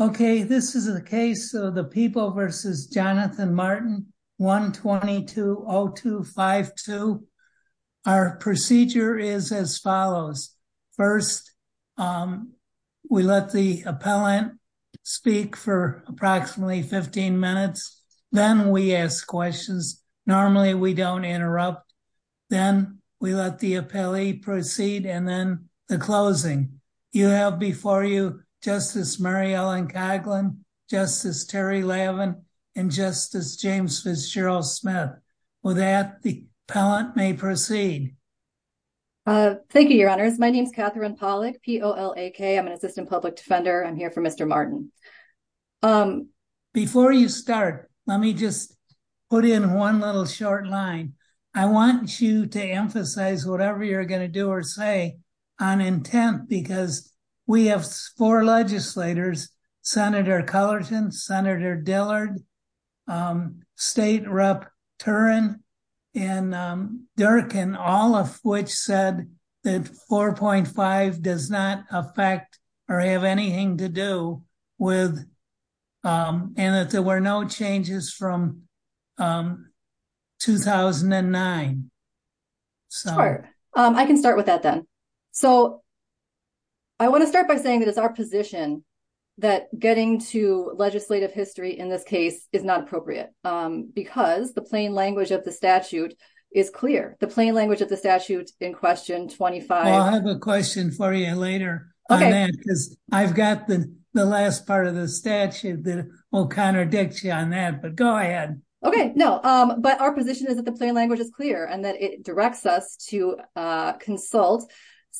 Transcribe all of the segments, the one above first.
Okay, this is a case of the people versus Jonathan Martin 1220252. Our procedure is as follows. First, we let the appellant speak for approximately 15 minutes, then we ask questions. Normally, we don't interrupt. Then we let the appellee proceed and then the closing. You have before you Justice Mary Ellen Coughlin, Justice Terry Levin, and Justice James Fitzgerald Smith. With that, the appellant may proceed. Thank you, your honors. My name is Catherine Pollack. I'm an assistant public defender. I'm here for Mr. Martin. Before you start, let me just put in one little short line. I want you to emphasize whatever you're going to do or say on intent, because we have four legislators, Senator Cullerton, Senator Dillard, State Rep Turin, and Durkin, all of which said that 4.5 does not affect or have anything to do with and that there were no changes from 2009. Sure, I can start with that then. So I want to start by saying that it's our position that getting to legislative history in this case is not appropriate because the plain language of the statute is clear. The plain language of the statute in question 25. I have a question for you later. I've got the last part of the statute that will contradict you on that, but go ahead. Okay, no, but our position is that the plain language is clear and that it directs us to consult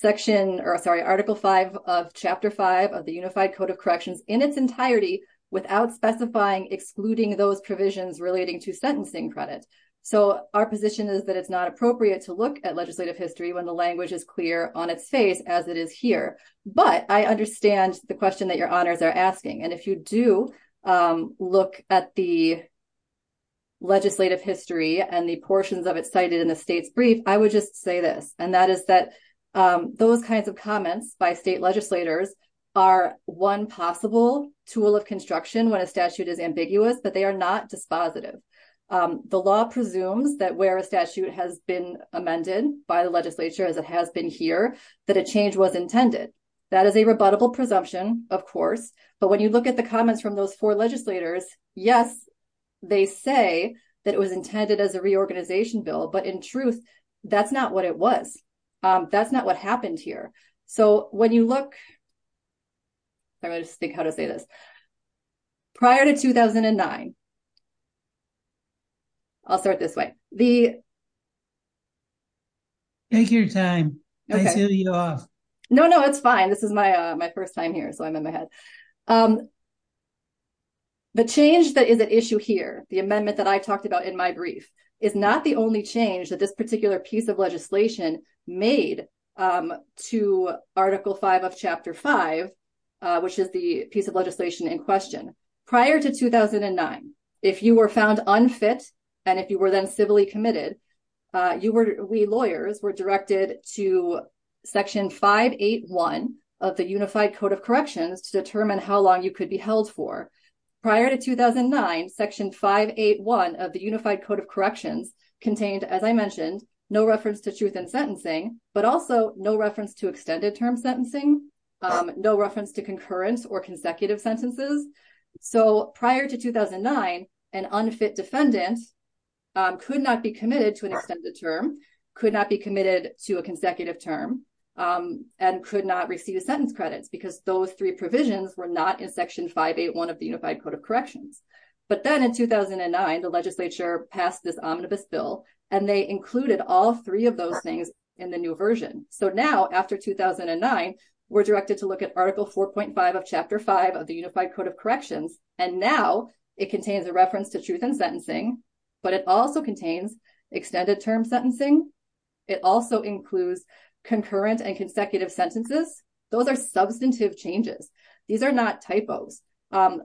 Article 5 of Chapter 5 of the Unified Code of Corrections in its entirety without specifying excluding those provisions relating to sentencing credit. So our position is that it's not appropriate to look at legislative history when the language is clear on its face as it is here. But I understand the question that your honors are asking. And if you do look at the legislative history and the portions of it cited in the state's brief, I would just say this, and that is that those kinds of comments by state legislators are one possible tool of construction when a statute is ambiguous, but they are not dispositive. The law presumes that where a statute has been amended by the legislature as it has been here, that a change was intended. That is a rebuttable presumption, of course, but when you look at the comments from those four legislators, yes, they say that it was intended as a reorganization bill, but in truth, that's not what it was. That's not what happened here. So when you look... I'm going to just think how to say this. Prior to 2009... I'll start this way. Take your time. I see you're off. No, no, it's fine. This is my first time here, so I'm in my head. The change that is at issue here, the amendment that I talked about in my brief, is not the only change that this particular piece of legislation made to Article 5 of Chapter 5, which is the piece of legislation in question. Prior to 2009, if you were found unfit and if you were then civilly committed, we lawyers were directed to Section 581 of the Unified Code of Corrections to determine how long you could be held for. Prior to 2009, Section 581 of the Unified Code of Corrections contained, as I mentioned, no reference to truth in sentencing, but also no reference to extended term sentencing, no reference to concurrent or consecutive sentences. So prior to 2009, an unfit defendant could not be committed to an extended term, could not be committed to a consecutive term, and could not receive sentence credits because those three provisions were not in Section 581 of the Unified Code of Corrections. But then in 2009, the legislature passed this omnibus bill, and they included all three of those things in the new version. So now, after 2009, we're directed to look at Article 4.5 of Chapter 5 of the Unified Code of Corrections, and now it contains a reference to truth in sentencing, but it also contains extended term sentencing. It also includes concurrent and consecutive sentences. Those are substantive changes. These are not typos. And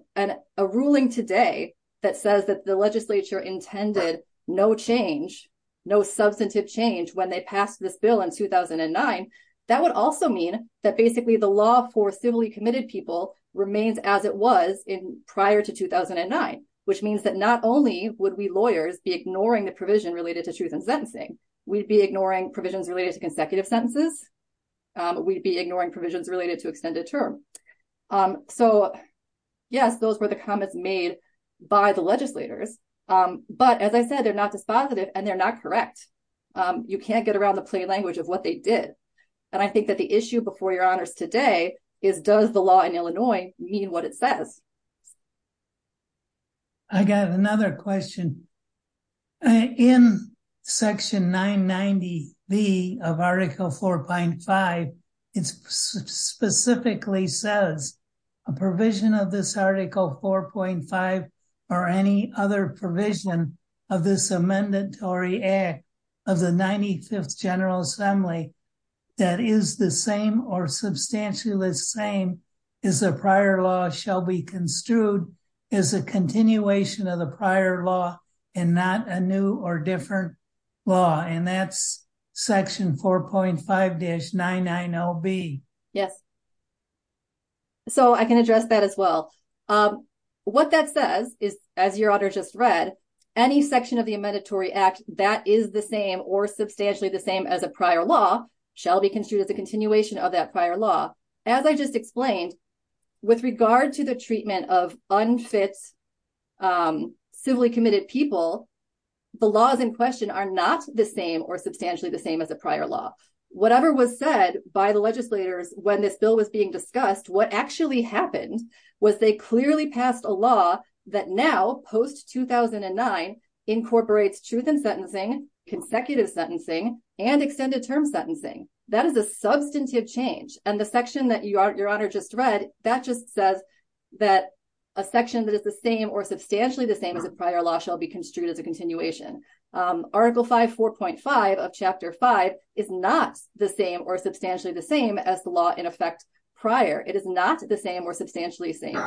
a ruling today that says that the legislature intended no change, no substantive change when they passed this bill in 2009, that would also mean that basically the law for civilly committed people remains as it was prior to 2009, which means that not only would we lawyers be ignoring the provision related to truth in sentencing, we'd be ignoring provisions related to consecutive sentences. We'd be ignoring provisions related to extended term. So, yes, those were the comments made by the legislators. But as I said, they're not dispositive, and they're not correct. You can't get around the plain language of what they did. And I think that the issue before your honors today is, does the law in Illinois mean what it says? I got another question. In Section 990B of Article 4.5, it specifically says a provision of this Article 4.5 or any other provision of this amendment to react of the 95th General Assembly that is the same or substantially the same as the prior law shall be construed as a continuation of the prior law. And not a new or different law. And that's Section 4.5-990B. Yes. So I can address that as well. What that says is, as your honor just read, any section of the Amendatory Act that is the same or substantially the same as a prior law shall be construed as a continuation of that prior law. As I just explained, with regard to the treatment of unfit, civilly committed people, the laws in question are not the same or substantially the same as a prior law. Whatever was said by the legislators when this bill was being discussed, what actually happened was they clearly passed a law that now, post-2009, incorporates truth in sentencing, consecutive sentencing, and extended term sentencing. That is a substantive change. And the section that your honor just read, that just says that a section that is the same or substantially the same as a prior law shall be construed as a continuation. Article 5.4.5 of Chapter 5 is not the same or substantially the same as the law in effect prior. It is not the same or substantially the same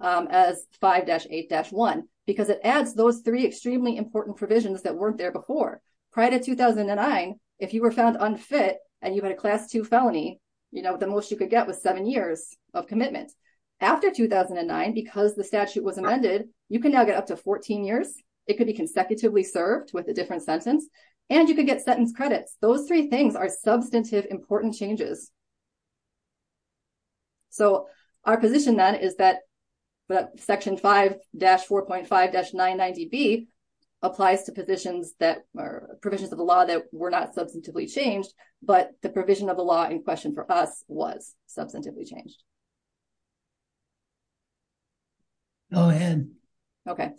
as 5-8-1, because it adds those three extremely important provisions that weren't there before. Prior to 2009, if you were found unfit and you had a Class 2 felony, you know, the most you could get was seven years of commitment. After 2009, because the statute was amended, you can now get up to 14 years. It could be consecutively served with a different sentence, and you could get sentence credits. Those three things are substantive important changes. So, our position then is that Section 5-4.5-99DB applies to provisions of the law that were not substantively changed, but the provision of the law in question for us was substantively changed. Go ahead. Okay.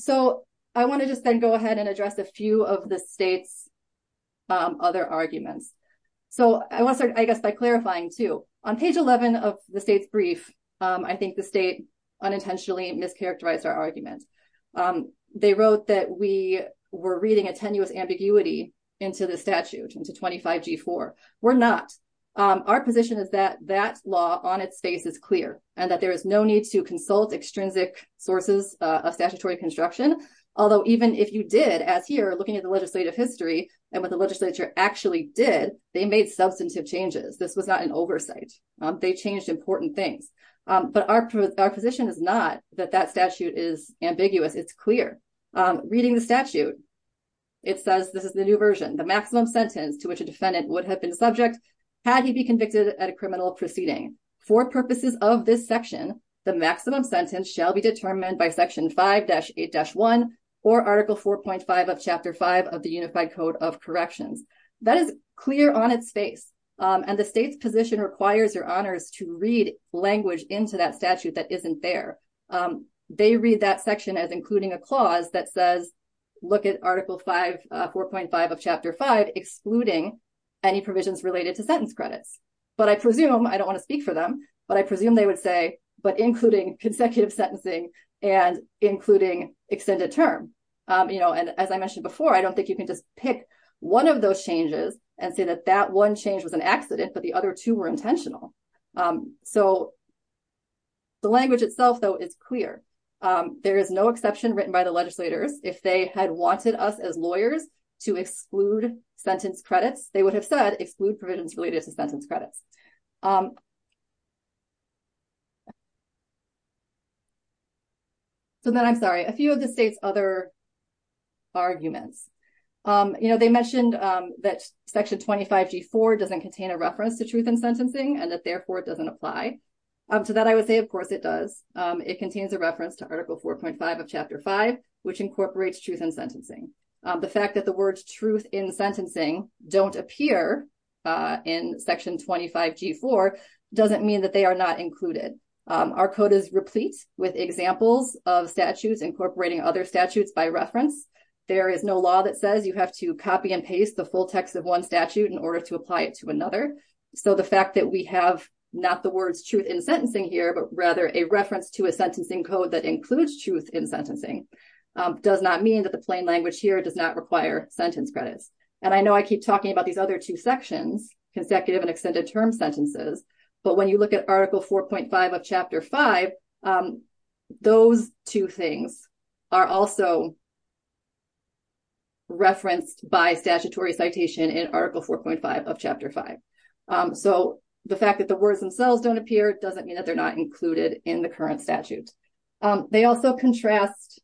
So, I want to just then go ahead and address a few of the state's other arguments. So, I want to start, I guess, by clarifying too. On page 11 of the state's brief, I think the state unintentionally mischaracterized our argument. They wrote that we were reading a tenuous ambiguity into the statute, into 25-G-4. We're not. Our position is that that law on its face is clear, and that there is no need to consult extrinsic sources of statutory construction. Although, even if you did, as here, looking at the legislative history and what the legislature actually did, they made substantive changes. This was not an oversight. They changed important things. But our position is not that that statute is ambiguous. It's clear. Reading the statute, it says, this is the new version, the maximum sentence to which a defendant would have been subject had he be convicted at a criminal proceeding. For purposes of this section, the maximum sentence shall be determined by Section 5-8-1 or Article 4.5 of Chapter 5 of the Unified Code of Corrections. That is clear on its face. And the state's position requires your honors to read language into that statute that isn't there. They read that section as including a clause that says, look at Article 5, 4.5 of Chapter 5, excluding any provisions related to sentence credits. But I presume, I don't want to speak for them, but I presume they would say, but including consecutive sentencing and including extended term. And as I mentioned before, I don't think you can just pick one of those changes and say that that one change was an accident, but the other two were intentional. So the language itself, though, is clear. There is no exception written by the legislators. If they had wanted us as lawyers to exclude sentence credits, they would have said exclude provisions related to sentence credits. So then, I'm sorry, a few of the state's other arguments. You know, they mentioned that Section 25-G-4 doesn't contain a reference to truth in sentencing and that, therefore, it doesn't apply. To that I would say, of course, it does. It contains a reference to Article 4.5 of Chapter 5, which incorporates truth in sentencing. The fact that the words truth in sentencing don't appear in Section 25-G-4 doesn't mean that they are not included. Our code is replete with examples of statutes incorporating other statutes by reference. There is no law that says you have to copy and paste the full text of one statute in order to apply it to another. So the fact that we have not the words truth in sentencing here, but rather a reference to a sentencing code that includes truth in sentencing does not mean that the plain language here does not require sentence credits. And I know I keep talking about these other two sections, consecutive and extended term sentences, but when you look at Article 4.5 of Chapter 5, those two things are also referenced by statutory citation in Article 4.5 of Chapter 5. So the fact that the words themselves don't appear doesn't mean that they're not included in the current statute. They also contrast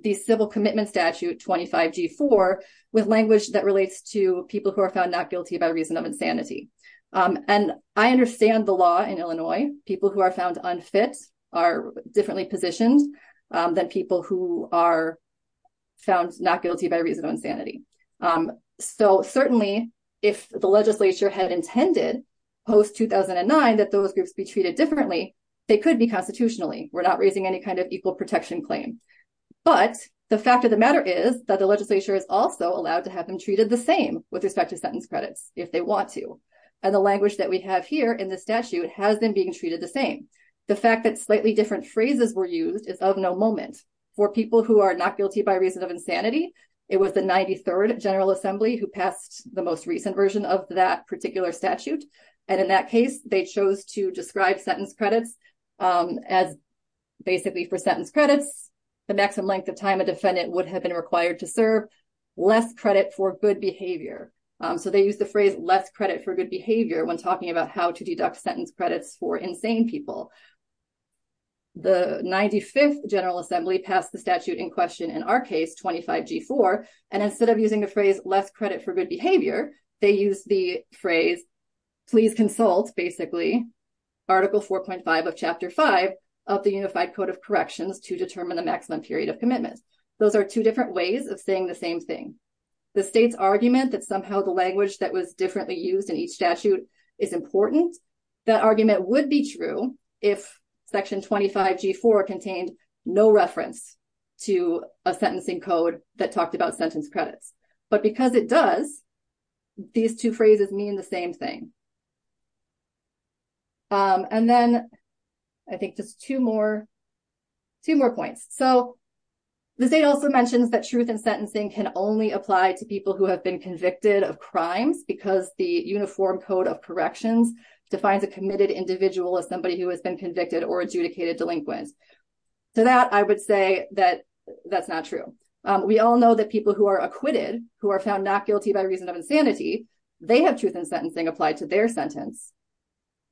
the Civil Commitment Statute 25-G-4 with language that relates to people who are found not guilty by reason of insanity. And I understand the law in Illinois. People who are found unfit are differently positioned than people who are found not guilty by reason of insanity. So certainly, if the legislature had intended post-2009 that those groups be treated differently, they could be constitutionally. We're not raising any kind of equal protection claim. But the fact of the matter is that the legislature is also allowed to have them treated the same with respect to sentence credits if they want to. And the language that we have here in the statute has been being treated the same. The fact that slightly different phrases were used is of no moment. For people who are not guilty by reason of insanity, it was the 93rd General Assembly who passed the most recent version of that particular statute. And in that case, they chose to describe sentence credits as basically for sentence credits, the maximum length of time a defendant would have been required to serve, less credit for good behavior. So they used the phrase less credit for good behavior when talking about how to deduct sentence credits for insane people. The 95th General Assembly passed the statute in question in our case, 25-G-4, and instead of using the phrase less credit for good behavior, they used the phrase, please consult, basically, Article 4.5 of Chapter 5 of the Unified Code of Corrections to determine the maximum period of commitment. Those are two different ways of saying the same thing. The state's argument that somehow the language that was differently used in each statute is important, that argument would be true if Section 25-G-4 contained no reference to a sentencing code that talked about sentence credits. But because it does, these two phrases mean the same thing. And then I think just two more points. So the state also mentions that truth in sentencing can only apply to people who have been convicted of crimes because the Uniform Code of Corrections defines a committed individual as somebody who has been convicted or adjudicated delinquent. To that, I would say that that's not true. We all know that people who are acquitted, who are found not guilty by reason of insanity, they have truth in sentencing applied to their sentence.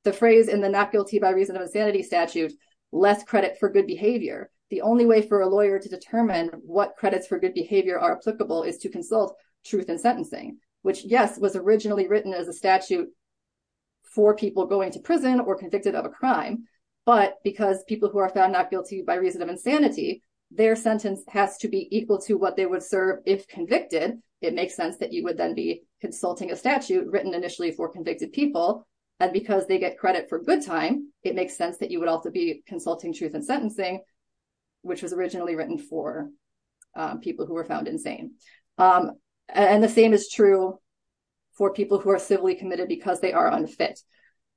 The phrase in the not guilty by reason of insanity statute, less credit for good behavior, the only way for a lawyer to determine what credits for good behavior are applicable is to consult truth in sentencing, which, yes, was originally written as a statute for people going to prison or convicted of a crime. But because people who are found not guilty by reason of insanity, their sentence has to be equal to what they would serve if convicted, it makes sense that you would then be consulting a statute written initially for convicted people. And because they get credit for good time, it makes sense that you would also be consulting truth in sentencing, which was originally written for people who were found insane. And the same is true for people who are civilly committed because they are unfit.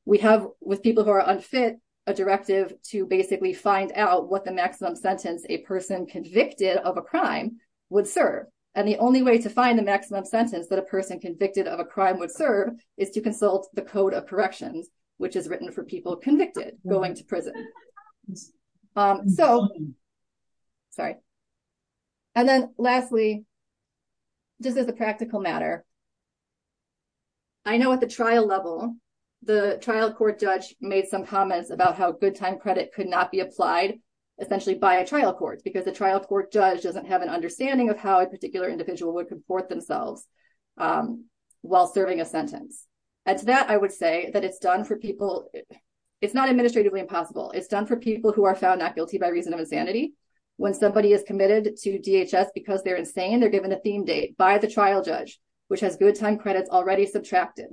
We have, with people who are unfit, a directive to basically find out what the maximum sentence a person convicted of a crime would serve. And the only way to find the maximum sentence that a person convicted of a crime would serve is to consult the Code of Corrections, which is written for people convicted going to prison. So, sorry. And then, lastly, just as a practical matter, I know at the trial level, the trial court judge made some comments about how good time credit could not be applied, essentially by a trial court, because the trial court judge doesn't have an understanding of how a particular individual would comport themselves while serving a sentence. And to that, I would say that it's done for people, it's not administratively impossible. It's done for people who are found not guilty by reason of insanity. When somebody is committed to DHS because they're insane, they're given a theme date by the trial judge, which has good time credits already subtracted.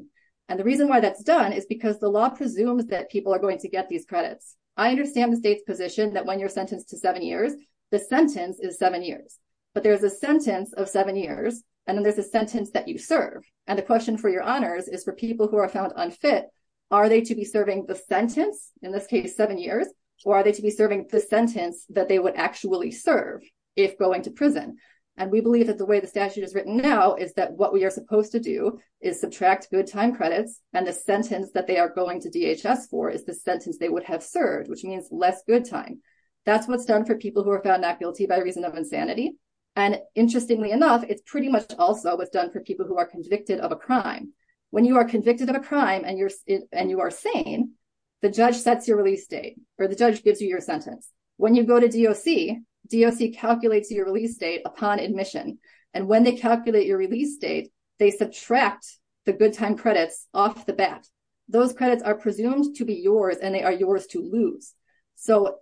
And the reason why that's done is because the law presumes that people are going to get these credits. I understand the state's position that when you're sentenced to seven years, the sentence is seven years. But there's a sentence of seven years, and then there's a sentence that you serve. And the question for your honors is for people who are found unfit, are they to be serving the sentence, in this case, seven years, or are they to be serving the sentence that they would actually serve if going to prison? And we believe that the way the statute is written now is that what we are supposed to do is subtract good time credits, and the sentence that they are going to DHS for is the sentence they would have served, which means less good time. That's what's done for people who are found not guilty by reason of insanity. And interestingly enough, it's pretty much also what's done for people who are convicted of a crime. When you are convicted of a crime and you are sane, the judge sets your release date, or the judge gives you your sentence. When you go to DOC, DOC calculates your release date upon admission. And when they calculate your release date, they subtract the good time credits off the bat. Those credits are presumed to be yours, and they are yours to lose. So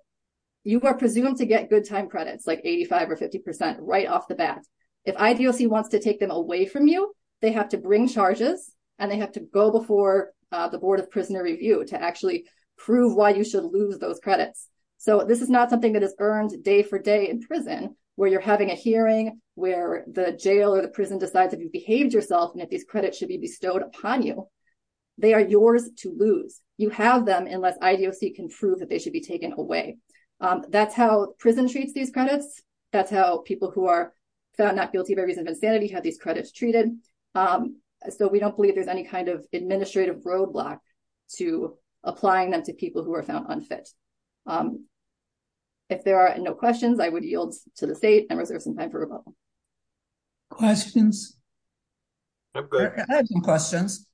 you are presumed to get good time credits, like 85% or 50% right off the bat. If IDOC wants to take them away from you, they have to bring charges, and they have to go before the Board of Prisoner Review to actually prove why you should lose those credits. So this is not something that is earned day for day in prison, where you're having a hearing, where the jail or the prison decides if you behaved yourself and if these credits should be bestowed upon you. They are yours to lose. You have them unless IDOC can prove that they should be taken away. That's how prison treats these credits. That's how people who are found not guilty by reason of insanity have these credits treated. So we don't believe there's any kind of administrative roadblock to applying them to people who are found unfit. If there are no questions, I would yield to the state and reserve some time for rebuttal. Questions? I have some questions.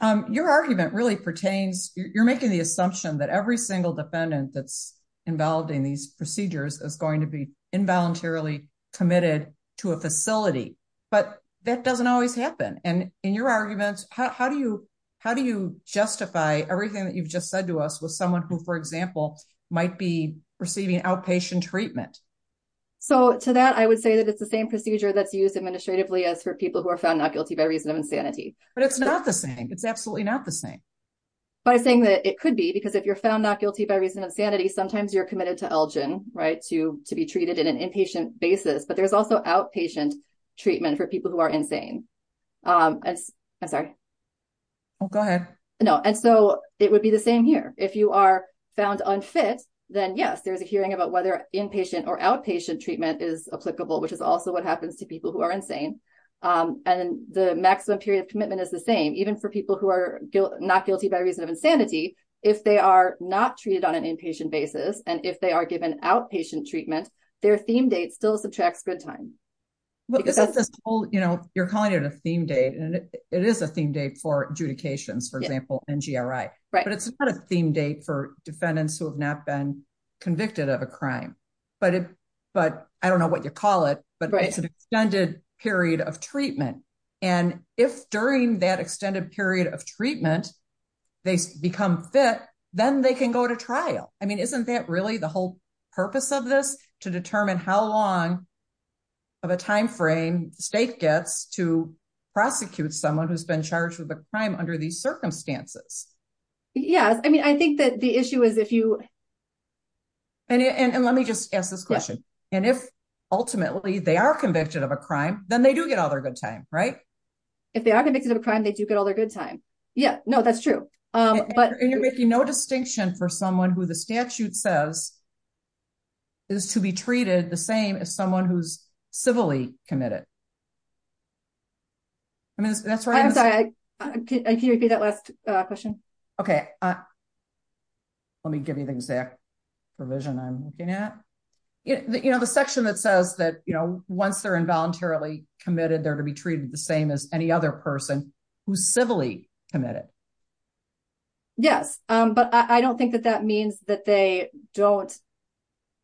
Your argument really pertains, you're making the assumption that every single defendant that's involved in these procedures is going to be involuntarily committed to a facility. But that doesn't always happen. And in your arguments, how do you justify everything that you've just said to us with someone who, for example, might be receiving outpatient treatment? So to that, I would say that it's the same procedure that's used administratively as for people who are found not guilty by reason of insanity. But it's not the same. It's absolutely not the same. But I'm saying that it could be because if you're found not guilty by reason of insanity, sometimes you're committed to Elgin, right, to be treated in an inpatient basis. But there's also outpatient treatment for people who are insane. I'm sorry. Go ahead. No, and so it would be the same here. If you are found unfit, then yes, there's a hearing about whether inpatient or outpatient treatment is applicable, which is also what happens to people who are insane. And the maximum period of commitment is the same, even for people who are not guilty by reason of insanity, if they are not treated on an inpatient basis, and if they are given outpatient treatment, their theme date still subtracts good time. You're calling it a theme date, and it is a theme date for adjudications, for example, NGRI. But it's not a theme date for defendants who have not been convicted of a crime. But I don't know what you call it, but it's an extended period of treatment. And if during that extended period of treatment, they become fit, then they can go to trial. I mean, isn't that really the whole purpose of this, to determine how long of a time frame the state gets to prosecute someone who's been charged with a crime under these circumstances? Yes, I mean, I think that the issue is if you... And let me just ask this question. And if ultimately they are convicted of a crime, then they do get all their good time, right? If they are convicted of a crime, they do get all their good time. Yeah, no, that's true. And you're making no distinction for someone who the statute says is to be treated the same as someone who's civilly committed. I'm sorry, can you repeat that last question? Okay, let me give you the exact provision I'm looking at. The section that says that once they're involuntarily committed, they're to be treated the same as any other person who's civilly committed. Yes, but I don't think that that means that they don't...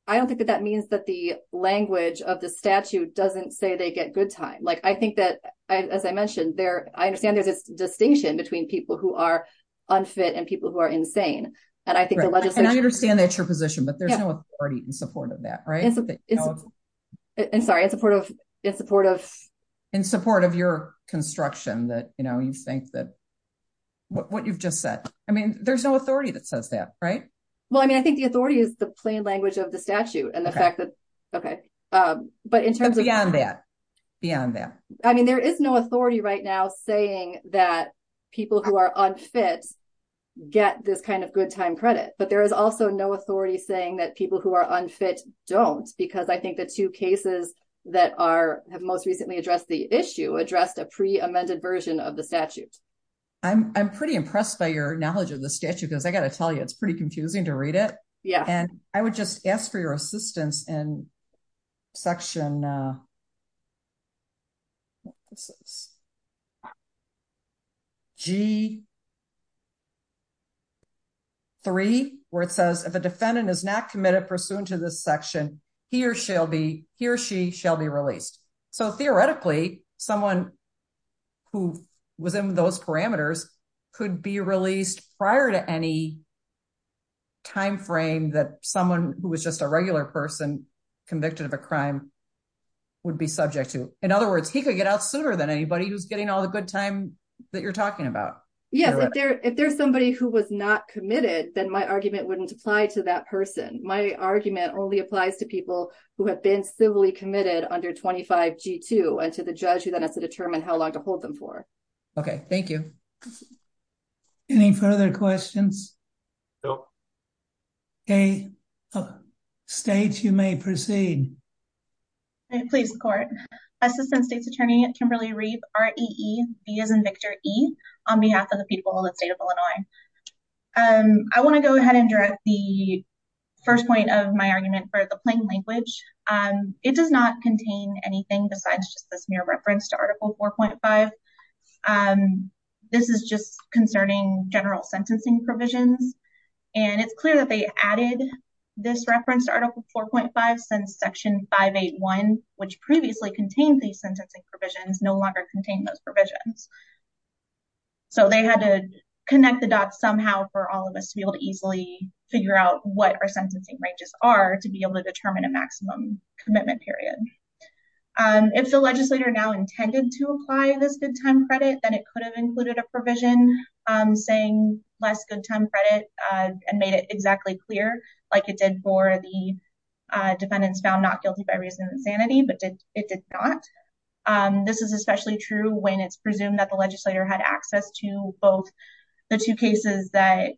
I don't think that that means that the language of the statute doesn't say they get good time. I think that, as I mentioned, I understand there's this distinction between people who are unfit and people who are insane. And I understand that's your position, but there's no authority in support of that, right? I'm sorry, in support of... In support of your construction that you think that... What you've just said. I mean, there's no authority that says that, right? Well, I mean, I think the authority is the plain language of the statute and the fact that... Beyond that. Beyond that. I mean, there is no authority right now saying that people who are unfit get this kind of good time credit. But there is also no authority saying that people who are unfit don't. Because I think the two cases that have most recently addressed the issue addressed a pre-amended version of the statute. I'm pretty impressed by your knowledge of the statute, because I got to tell you, it's pretty confusing to read it. And I would just ask for your assistance in section... G3, where it says, if a defendant is not committed pursuant to this section, he or she shall be released. So theoretically, someone who was in those parameters could be released prior to any time frame that someone who was just a regular person convicted of a crime would be subject to. In other words, he could get out sooner than anybody who's getting all the good time that you're talking about. Yes, if there's somebody who was not committed, then my argument wouldn't apply to that person. My argument only applies to people who have been civilly committed under 25 G2 and to the judge who then has to determine how long to hold them for. Okay, thank you. Any further questions? Nope. Okay, state, you may proceed. Please, court. Assistant State's Attorney, Kimberly Reeve, R-E-E, V as in Victor, E, on behalf of the people of the state of Illinois. I want to go ahead and direct the first point of my argument for the plain language. It does not contain anything besides just this mere reference to Article 4.5. This is just concerning general sentencing provisions. And it's clear that they added this reference to Article 4.5 since Section 581, which previously contained these sentencing provisions, no longer contain those provisions. So they had to connect the dots somehow for all of us to be able to easily figure out what our sentencing ranges are to be able to determine a maximum commitment period. If the legislator now intended to apply this good time credit, then it could have included a provision saying less good time credit and made it exactly clear like it did for the defendants found not guilty by reason of insanity, but it did not. This is especially true when it's presumed that the legislator had access to both the two cases that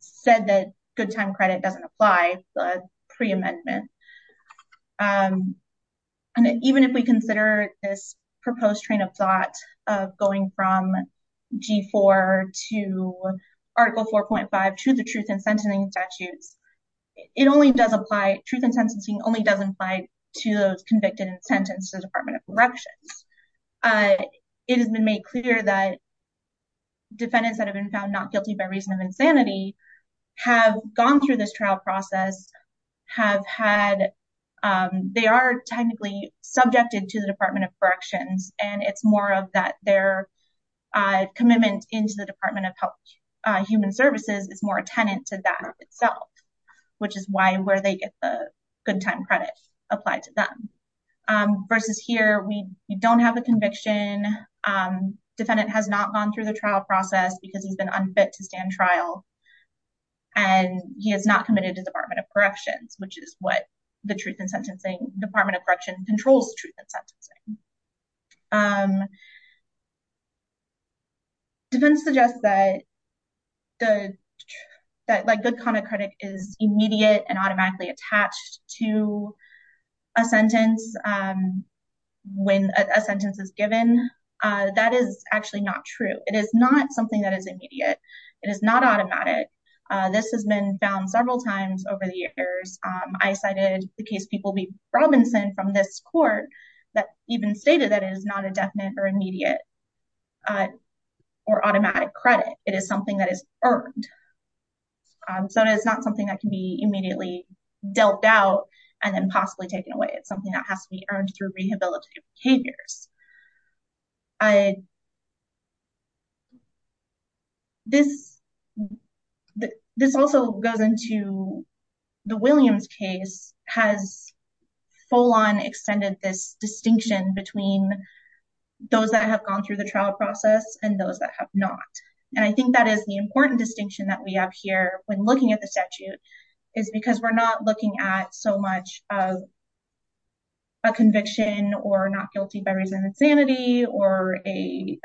said that good time credit doesn't apply, the pre-amendment. And even if we consider this proposed train of thought of going from G4 to Article 4.5 to the truth and sentencing statutes, it only does apply, truth and sentencing only does apply to those convicted and sentenced to the Department of Corrections. It has been made clear that defendants that have been found not guilty by reason of insanity have gone through this trial process, have had, they are technically subjected to the Department of Corrections. And it's more of that their commitment into the Department of Human Services is more a tenant to that itself, which is why where they get the good time credit applied to them. Versus here, we don't have a conviction, defendant has not gone through the trial process because he's been unfit to stand trial. And he has not committed to the Department of Corrections, which is what the truth and sentencing, Department of Correction controls truth and sentencing. Defendants suggest that good comment credit is immediate and automatically attached to a sentence when a sentence is given. That is actually not true. It is not something that is immediate. It is not automatic. This has been found several times over the years. I cited the case people be Robinson from this court that even stated that is not a definite or immediate or automatic credit. It is something that is earned. So it's not something that can be immediately dealt out and then possibly taken away. It's something that has to be earned through rehabilitative behaviors. This also goes into the Williams case has full on extended this distinction between those that have gone through the trial process and those that have not. And I think that is the important distinction that we have here when looking at the statute is because we're not looking at so much of a conviction or not guilty by reason of sanity or a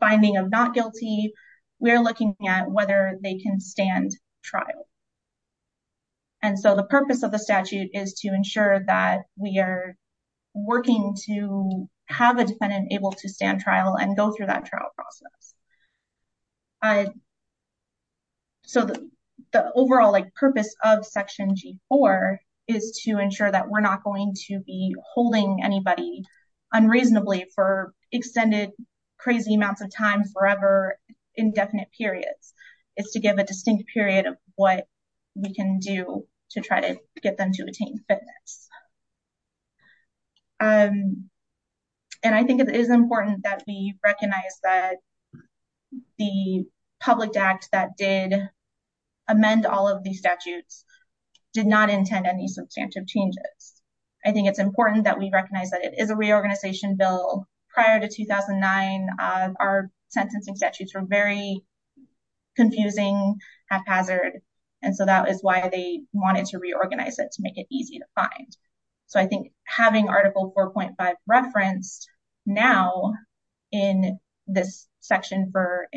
finding of not guilty. We're looking at whether they can stand trial. And so the purpose of the statute is to ensure that we are working to have a defendant able to stand trial and go through that trial process. So the overall purpose of Section G4 is to ensure that we're not going to be holding anybody unreasonably for extended crazy amounts of time forever indefinite periods is to give a distinct period of what we can do to try to get them to attain fitness. And I think it is important that we recognize that the public act that did amend all of these statutes did not intend any substantive changes. I think it's important that we recognize that it is a reorganization bill prior to 2009. Our sentencing statutes are very confusing haphazard. And so that is why they wanted to reorganize it to make it easy to find. So I think having Article 4.5 referenced now in this section for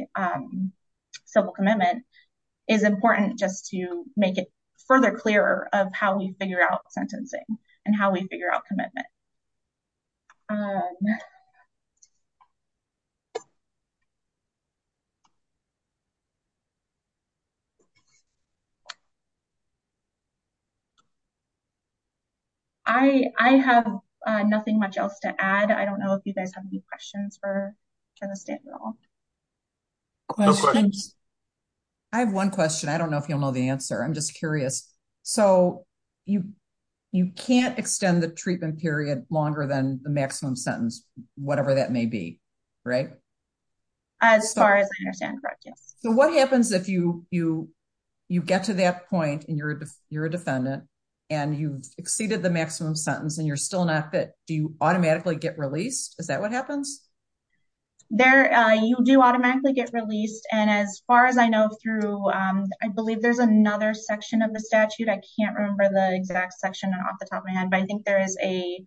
civil commitment is important just to make it further clearer of how we figure out sentencing and how we figure out commitment. I have nothing much else to add. I don't know if you guys have any questions for the state at all. I have one question. I don't know if you'll know the answer. I'm just curious. So, you, you can't extend the treatment period longer than the maximum sentence, whatever that may be right. As far as I understand, correct. Yes. So what happens if you, you, you get to that point and you're, you're a defendant, and you've exceeded the maximum sentence and you're still not fit, do you automatically get released. Is that what happens there, you do automatically get released. And as far as I know, through, I believe there's another section of the statute. I can't remember the exact section off the top of my head, but I think there is a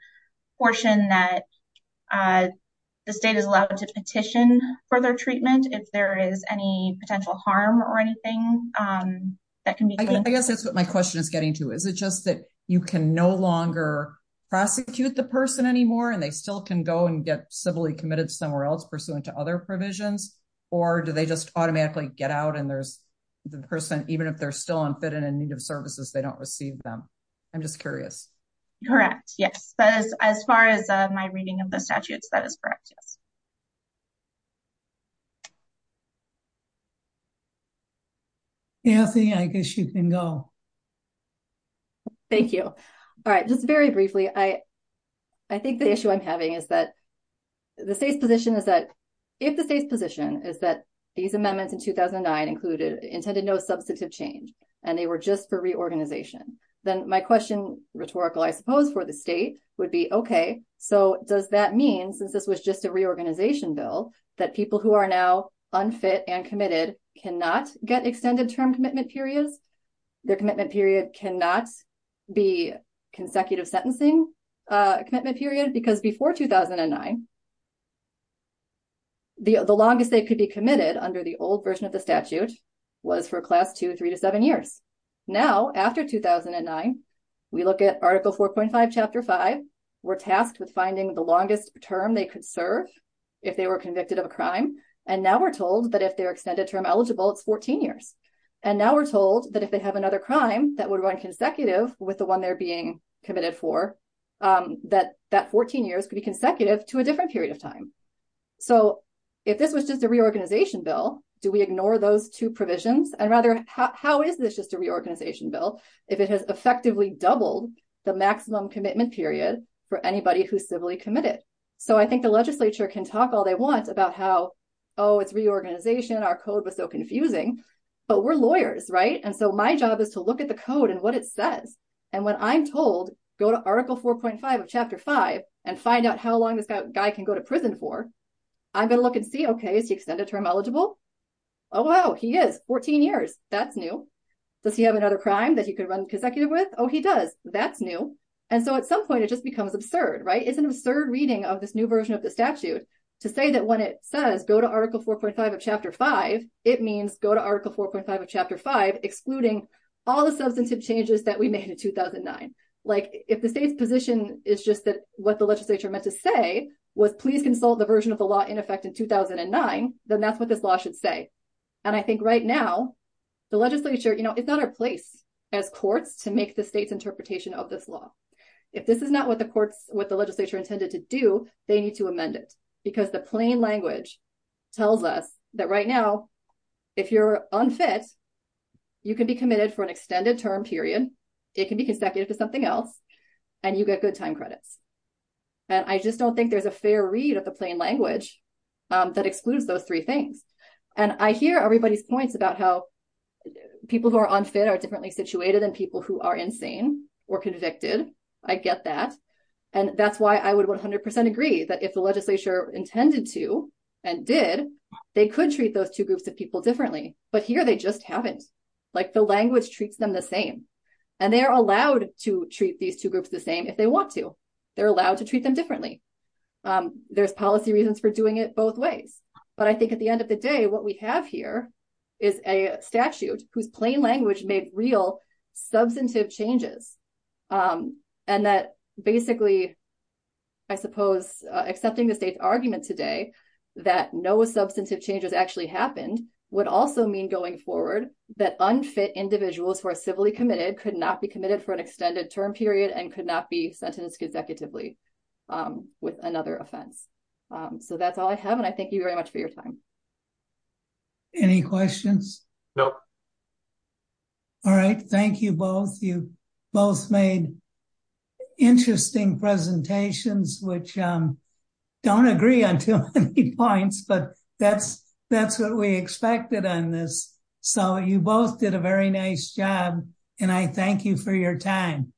portion that the state is allowed to petition for their treatment. If there is any potential harm or anything that can be, I guess that's what my question is getting to. Is it just that you can no longer prosecute the person anymore and they still can go and get civilly committed somewhere else pursuant to other provisions. Or do they just automatically get out and there's the person, even if they're still unfit and in need of services, they don't receive them. I'm just curious. Correct. Yes. As far as my reading of the statutes, that is correct. Yes. I guess you can go. Thank you. All right, just very briefly, I, I think the issue I'm having is that the state's position is that if the state's position is that these amendments in 2009 included intended no substantive change, and they were just for reorganization. Then my question, rhetorical, I suppose, for the state would be, okay, so does that mean since this was just a reorganization bill that people who are now unfit and committed cannot get extended term commitment periods. Their commitment period cannot be consecutive sentencing commitment period because before 2009. The longest they could be committed under the old version of the statute was for class 2, 3 to 7 years. Now, after 2009, we look at article 4.5 chapter 5, we're tasked with finding the longest term they could serve. If they were convicted of a crime, and now we're told that if they're extended term eligible, it's 14 years. And now we're told that if they have another crime that would run consecutive with the one they're being committed for. That that 14 years could be consecutive to a different period of time. So, if this was just a reorganization bill, do we ignore those two provisions and rather how is this just a reorganization bill, if it has effectively doubled the maximum commitment period for anybody who civilly committed. So, I think the legislature can talk all they want about how, oh, it's reorganization. Our code was so confusing, but we're lawyers. Right. And so my job is to look at the code and what it says. And when I'm told, go to article 4.5 of chapter 5 and find out how long this guy can go to prison for. I'm going to look and see, okay, is he extended term eligible. Oh, wow, he is 14 years. That's new. Does he have another crime that he could run consecutive with? Oh, he does. That's new. And so at some point, it just becomes absurd, right? It's an absurd reading of this new version of the statute to say that when it says go to article 4.5 of chapter 5, it means go to article 4.5 of chapter 5, excluding all the substantive changes that we made in 2009. Like, if the state's position is just that what the legislature meant to say was please consult the version of the law in effect in 2009, then that's what this law should say. And I think right now, the legislature, you know, it's not our place as courts to make the state's interpretation of this law. If this is not what the courts, what the legislature intended to do, they need to amend it. Because the plain language tells us that right now, if you're unfit, you can be committed for an extended term period. It can be consecutive to something else, and you get good time credits. And I just don't think there's a fair read of the plain language that excludes those three things. And I hear everybody's points about how people who are unfit are differently situated than people who are insane or convicted. I get that. And that's why I would 100% agree that if the legislature intended to and did, they could treat those two groups of people differently. But here they just haven't. Like the language treats them the same. And they are allowed to treat these two groups the same if they want to. They're allowed to treat them differently. There's policy reasons for doing it both ways. But I think at the end of the day, what we have here is a statute whose plain language made real substantive changes. And that basically, I suppose, accepting the state's argument today that no substantive changes actually happened would also mean going forward that unfit individuals who are civilly committed could not be committed for an extended term period and could not be sentenced consecutively with another offense. So that's all I have. And I thank you very much for your time. Any questions? No. All right. Thank you both. You both made interesting presentations, which don't agree on too many points, but that's what we expected on this. So you both did a very nice job. And I thank you for your time.